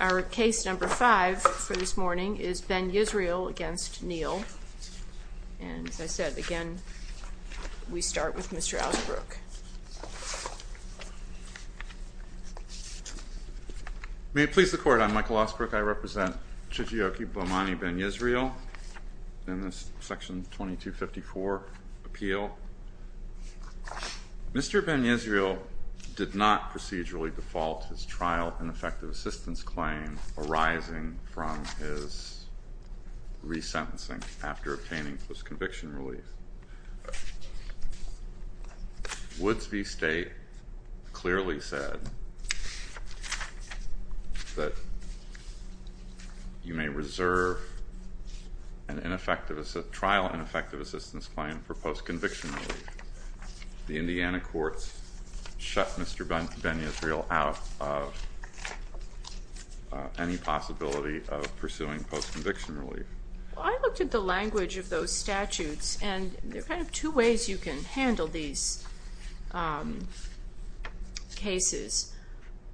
Our case number five for this morning is Ben-Yisrael against Neal. And as I said, again, we start with Mr. Ausbrook. May it please the court, I'm Michael Ausbrook. I represent Chijioke Ben-Yisrael in this section 2254 appeal. Mr. Ben-Yisrael did not procedurally default his trial ineffective assistance claim arising from his resentencing after obtaining post-conviction relief. Woodsby State clearly said that you may reserve a trial ineffective assistance claim for post-conviction relief. The Indiana courts shut Mr. Ben-Yisrael out of any possibility of pursuing post-conviction relief. I looked at the language of those statutes, and there are kind of two ways you can handle these cases.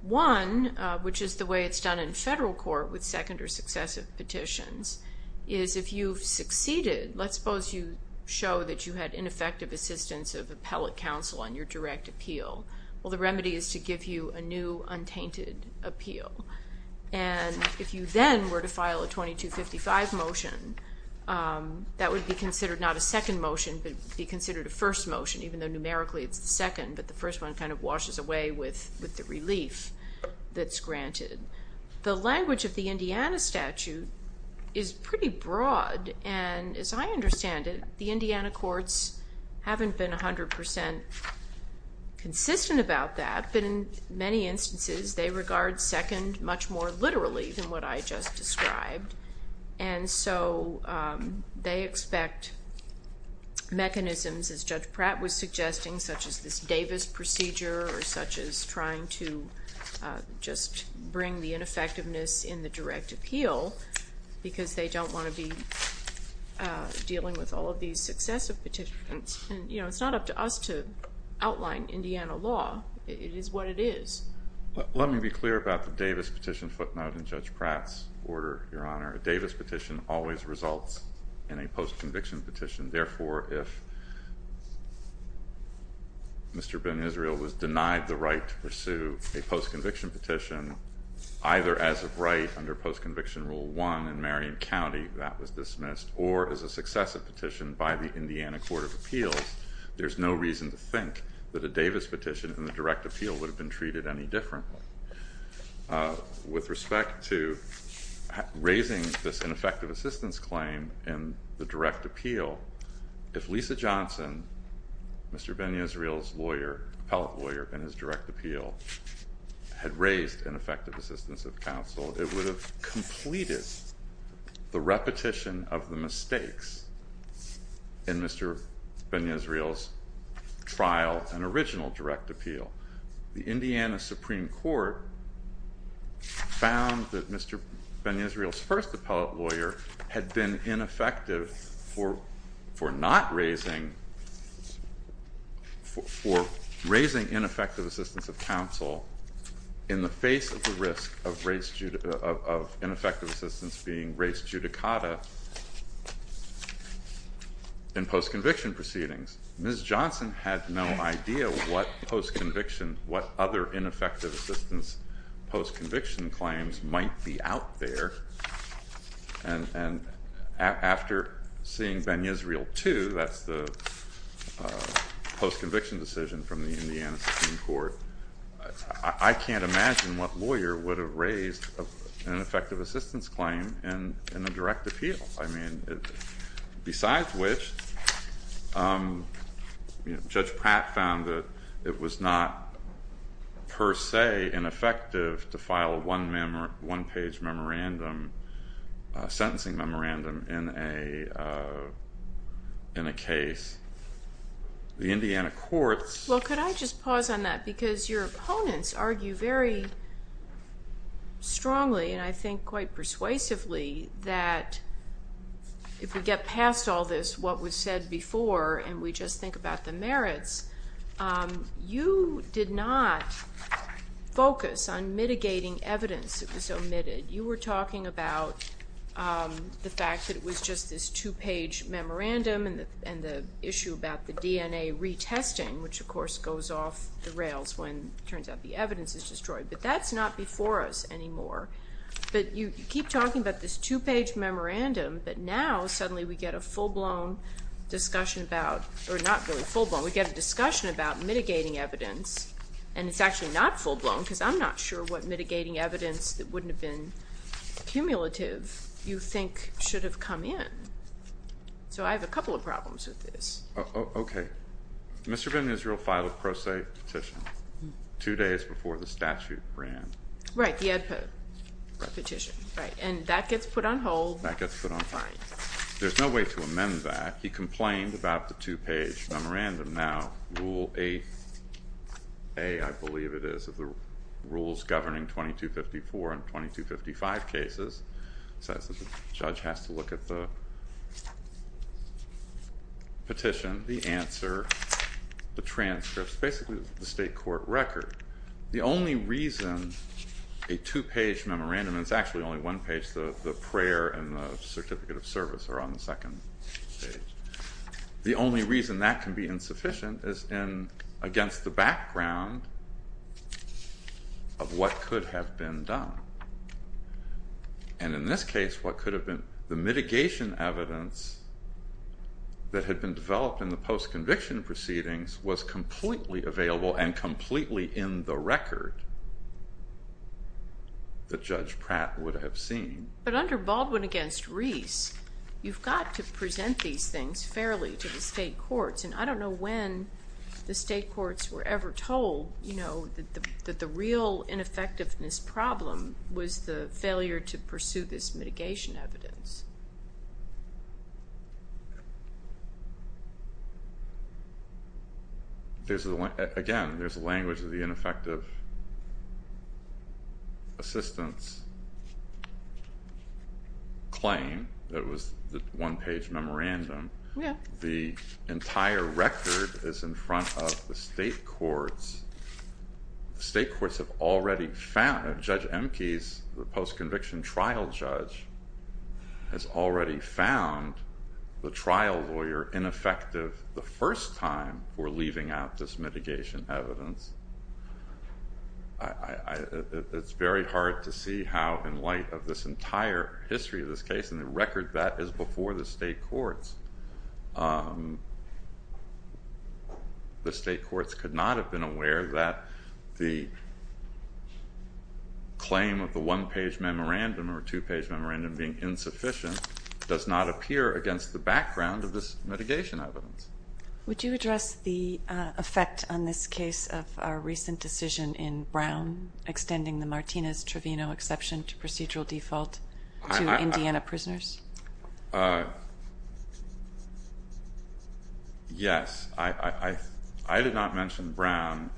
One, which is the way it's done in federal court with second or successive petitions, is if you've succeeded, let's suppose you show that you had ineffective assistance of appellate counsel on your direct appeal. Well, the remedy is to give you a new untainted appeal. And if you then were to file a 2255 motion, that would be considered not a second motion, but be considered a first motion, even though numerically it's the second. But the first one kind of washes away with the relief that's granted. The language of the Indiana statute is pretty broad. And as I understand it, the Indiana courts haven't been 100% consistent about that. But in many instances, they regard second much more literally than what I just described. And so they expect mechanisms, as Judge Pratt was suggesting, such as this Davis procedure, or such as trying to just bring the ineffectiveness in the direct appeal, because they don't want to be dealing with all of these successive petitions. And it's not up to us to outline Indiana law. It is what it is. Let me be clear about the Davis petition footnote in Judge Pratt's order, Your Honor. A Davis petition always results in a post-conviction petition. Therefore, if Mr. Ben Israel was denied the right to pursue a post-conviction petition, either as of right under post-conviction rule 1 in Marion County, that was dismissed, or as a successive petition by the Indiana Court of Appeals, there's no reason to think that a Davis petition in the direct appeal would have been treated any differently. With respect to raising this ineffective assistance claim in the direct appeal, if Lisa Johnson, Mr. Ben Israel's lawyer, appellate lawyer, in his direct appeal had raised ineffective assistance of counsel, it would have completed the repetition of the mistakes in Mr. Ben Israel's trial and original direct appeal. The Indiana Supreme Court found that Mr. Ben Israel's first appellate lawyer had been ineffective for raising ineffective assistance of counsel in the face of the risk of ineffective assistance being raised judicata in post-conviction proceedings. Ms. Johnson had no idea what other ineffective assistance post-conviction claims might be out there. And after seeing Ben Israel 2, that's the post-conviction decision from the Indiana Supreme Court, I can't imagine what lawyer would have raised an ineffective assistance claim in a direct appeal. I mean, besides which, Judge Pratt found that it was not, per se, ineffective to file a one-page memorandum, a sentencing memorandum, in a case. The Indiana courts. Well, could I just pause on that? Because your opponents argue very strongly, and I think quite persuasively, that if we get past all this, what was said before, and we just think about the merits, you did not focus on mitigating evidence that was omitted. You were talking about the fact that it was just this two-page memorandum and the issue about the DNA retesting, which, of course, goes off the rails when, it turns out, the evidence is destroyed. But that's not before us anymore. But you keep talking about this two-page memorandum, but now, suddenly, we get a full-blown discussion about, or not really full-blown, we get a discussion about mitigating evidence. And it's actually not full-blown, because I'm not sure what mitigating evidence that wouldn't have been cumulative you think should have come in. So I have a couple of problems with this. OK. Mr. Ben-Yisrael filed a pro se petition two days before the statute ran. Right, the ad petition, right. And that gets put on hold. That gets put on hold. There's no way to amend that. He complained about the two-page memorandum. Now, Rule 8A, I believe it is, of the rules governing 2254 and 2255 cases, says that the judge has to look at the petition, the answer, the transcripts, basically the state court record. The only reason a two-page memorandum, and it's actually only one page, the prayer and the certificate of service are on the second page. The only reason that can be insufficient is against the background of what could have been done. And in this case, what could have been, the mitigation evidence that had been developed in the post-conviction proceedings was completely available and completely in the record that Judge Pratt would have seen. But under Baldwin against Reese, you've got to present these things fairly to the state courts. And I don't know when the state courts were ever told that the real ineffectiveness problem was the failure to pursue this mitigation evidence. Again, there's a language of the ineffective assistance claim that was the one-page memorandum. The entire record is in front of the state courts. State courts have already found, Judge Emke's post-conviction trial judge has already found the trial lawyer ineffective the first time for leaving out this mitigation evidence. It's very hard to see how, in light of this entire history of this case and the record that is before the state courts, the state courts could not have been aware that the claim of the one-page memorandum or two-page memorandum being insufficient does not appear against the background of this mitigation evidence. Would you address the effect on this case of a recent decision in Brown extending the Martinez-Trevino exception to procedural default to Indiana prisoners? Yes. I did not mention Brown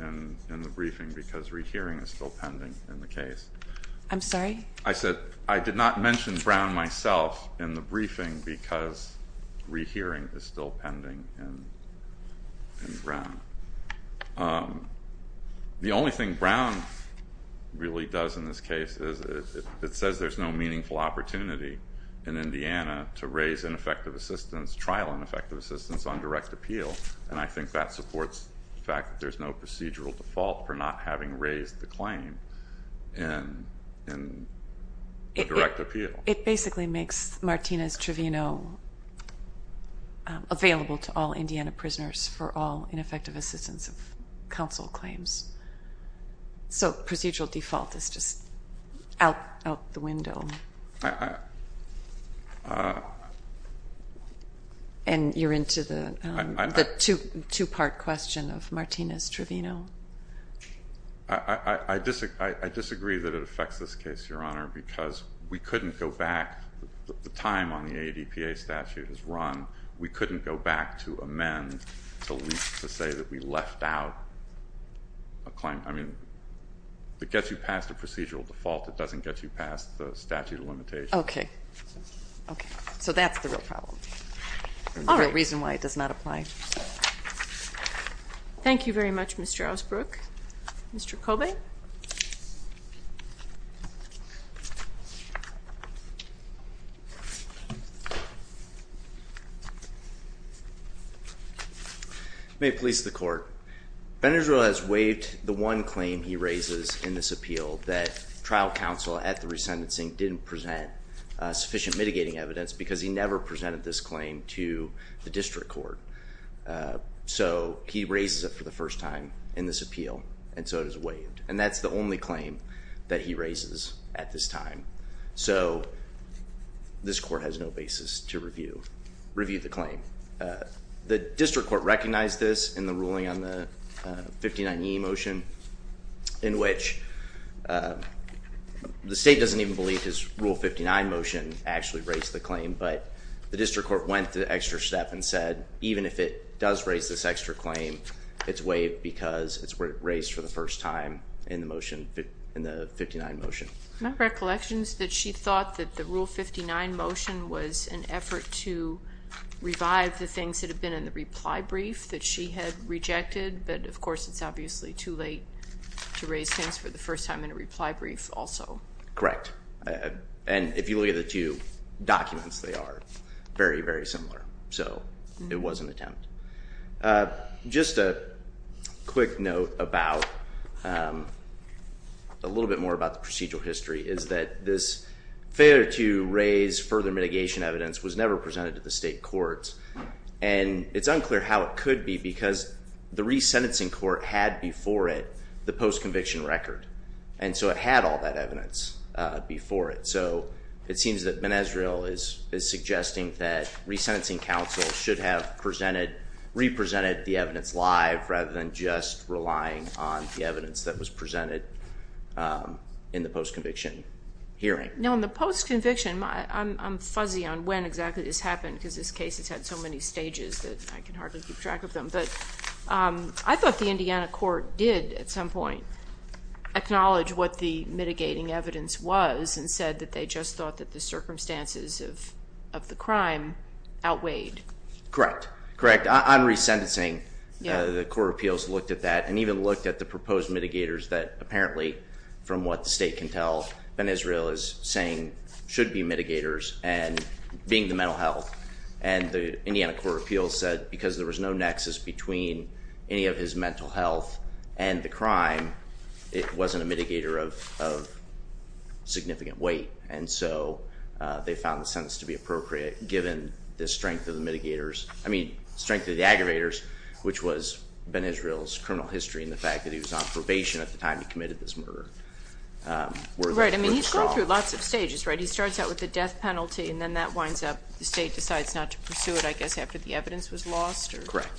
in the briefing because rehearing is still pending in the case. I'm sorry? I said I did not mention Brown myself in the briefing because rehearing is still pending in Brown. The only thing Brown really does in this case is it says there's no meaningful opportunity in Indiana to raise ineffective assistance, trial ineffective assistance on direct appeal. And I think that supports the fact that there's no procedural default for not having raised the claim in direct appeal. It basically makes Martinez-Trevino available to all Indiana prisoners for all ineffective assistance of counsel claims. So procedural default is just out the window. And you're into the two-part question of Martinez-Trevino? I disagree that it affects this case, Your Honor, because we couldn't go back. The time on the ADPA statute is run. We couldn't go back to amend to say that we left out a claim. I mean, it gets you past a procedural default. It doesn't get you past the statute of limitations. OK. OK. So that's the real problem, the real reason why it does not apply. Thank you very much, Mr. Osbrook. Mr. Kobe? May it please the court. Ben Israel has waived the one claim he raises in this appeal that trial counsel at the Resentencing didn't present sufficient mitigating evidence because he never presented this claim to the district court. So he raises it for the first time in this appeal. Thank you. Thank you. Thank you. Thank you. Thank you. Thank you. Thank you. Thank you. Thank you. And that's the only claim that he raises at this time. So this court has no basis to review the claim. The district court recognized this in the ruling on the 59E motion, in which the state doesn't even believe his Rule 59 motion actually raised the claim. But the district court went the extra step and said, even if it does raise this extra claim, it's waived because it's raised for the first time in the motion, in the 59 motion. My recollection is that she thought that the Rule 59 motion was an effort to revive the things that had been in the reply brief that she had rejected. But of course, it's obviously too late to raise things for the first time in a reply brief also. Correct. And if you look at the two documents, they are very, very similar. So it was an attempt. Just a quick note about, a little bit more about the procedural history, is that this failure to raise further mitigation evidence was never presented to the state courts. And it's unclear how it could be, because the resentencing court had before it the post-conviction record. And so it had all that evidence before it. So it seems that Benezreal is suggesting that resentencing counsel should have represented the evidence live rather than just relying on the evidence that was presented in the post-conviction hearing. Now, in the post-conviction, I'm fuzzy on when exactly this happened, because this case has had so many stages that I can hardly keep track of them. But I thought the Indiana court did, at some point, acknowledge what the mitigating evidence was and said that they just thought that the circumstances of the crime outweighed. Correct. Correct. On resentencing, the court of appeals looked at that and even looked at the proposed mitigators that apparently, from what the state can tell, Benezreal is saying should be mitigators and being the mental health. And the Indiana court of appeals said, because there was no nexus between any of his mental health and the crime, it wasn't a mitigator of significant weight. And so they found the sentence to be appropriate, given the strength of the mitigators. I mean, strength of the aggravators, which was Benezreal's criminal history and the fact that he was on probation at the time he committed this murder. Right. I mean, he's gone through lots of stages, right? He starts out with a death penalty, and then that winds up, the state decides not to pursue it, I guess, after the evidence was lost? Correct.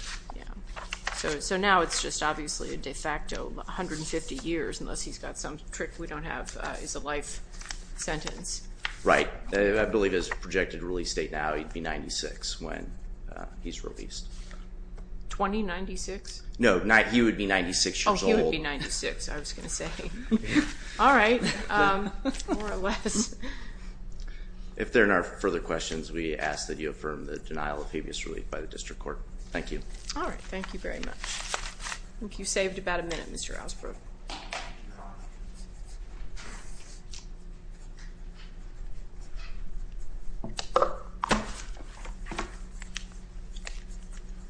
So now it's just obviously a de facto 150 years, unless he's got some trick we don't have as a life sentence. Right. I believe his projected release date now, he'd be 96 when he's released. 2096? No, he would be 96 years old. Oh, he would be 96, I was going to say. All right, more or less. If there are no further questions, we ask that you affirm the denial of previous relief by the district court. Thank you. All right, thank you very much. I think you saved about a minute, Mr. Asper.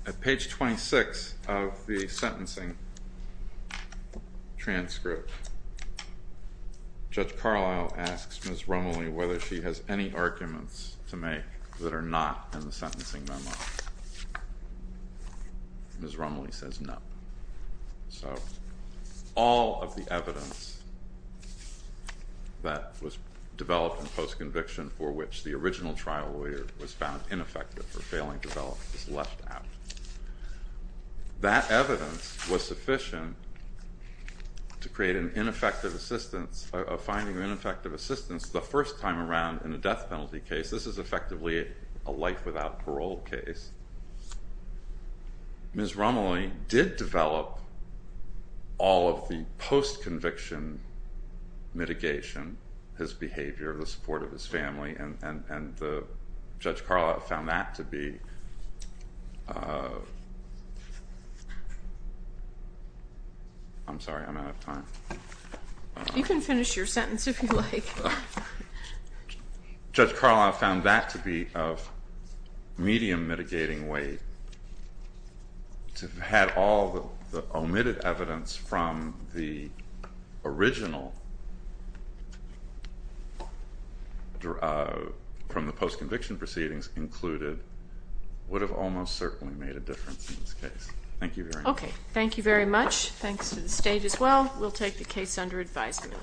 At page 26 of the sentencing transcript, Judge Carlisle asks Ms. Rumley whether she has any arguments to make that are not in the sentencing memo. Ms. Rumley says no. So all of the evidence that was developed in post-conviction for which the original trial lawyer was found ineffective or failing to develop was left out. That evidence was sufficient to create an ineffective assistance, a finding of ineffective assistance the first time around in a death penalty case. This is effectively a life without parole case. Ms. Rumley did develop all of the post-conviction mitigation, his behavior, the support of his family, and Judge Carlisle found that to be. I'm sorry, I'm out of time. You can finish your sentence if you like. But Judge Carlisle found that to be of medium mitigating weight. To have had all the omitted evidence from the original, from the post-conviction proceedings included would have almost certainly made a difference in this case. Thank you very much. OK, thank you very much. Thanks to the state as well. We'll take the case under advisement.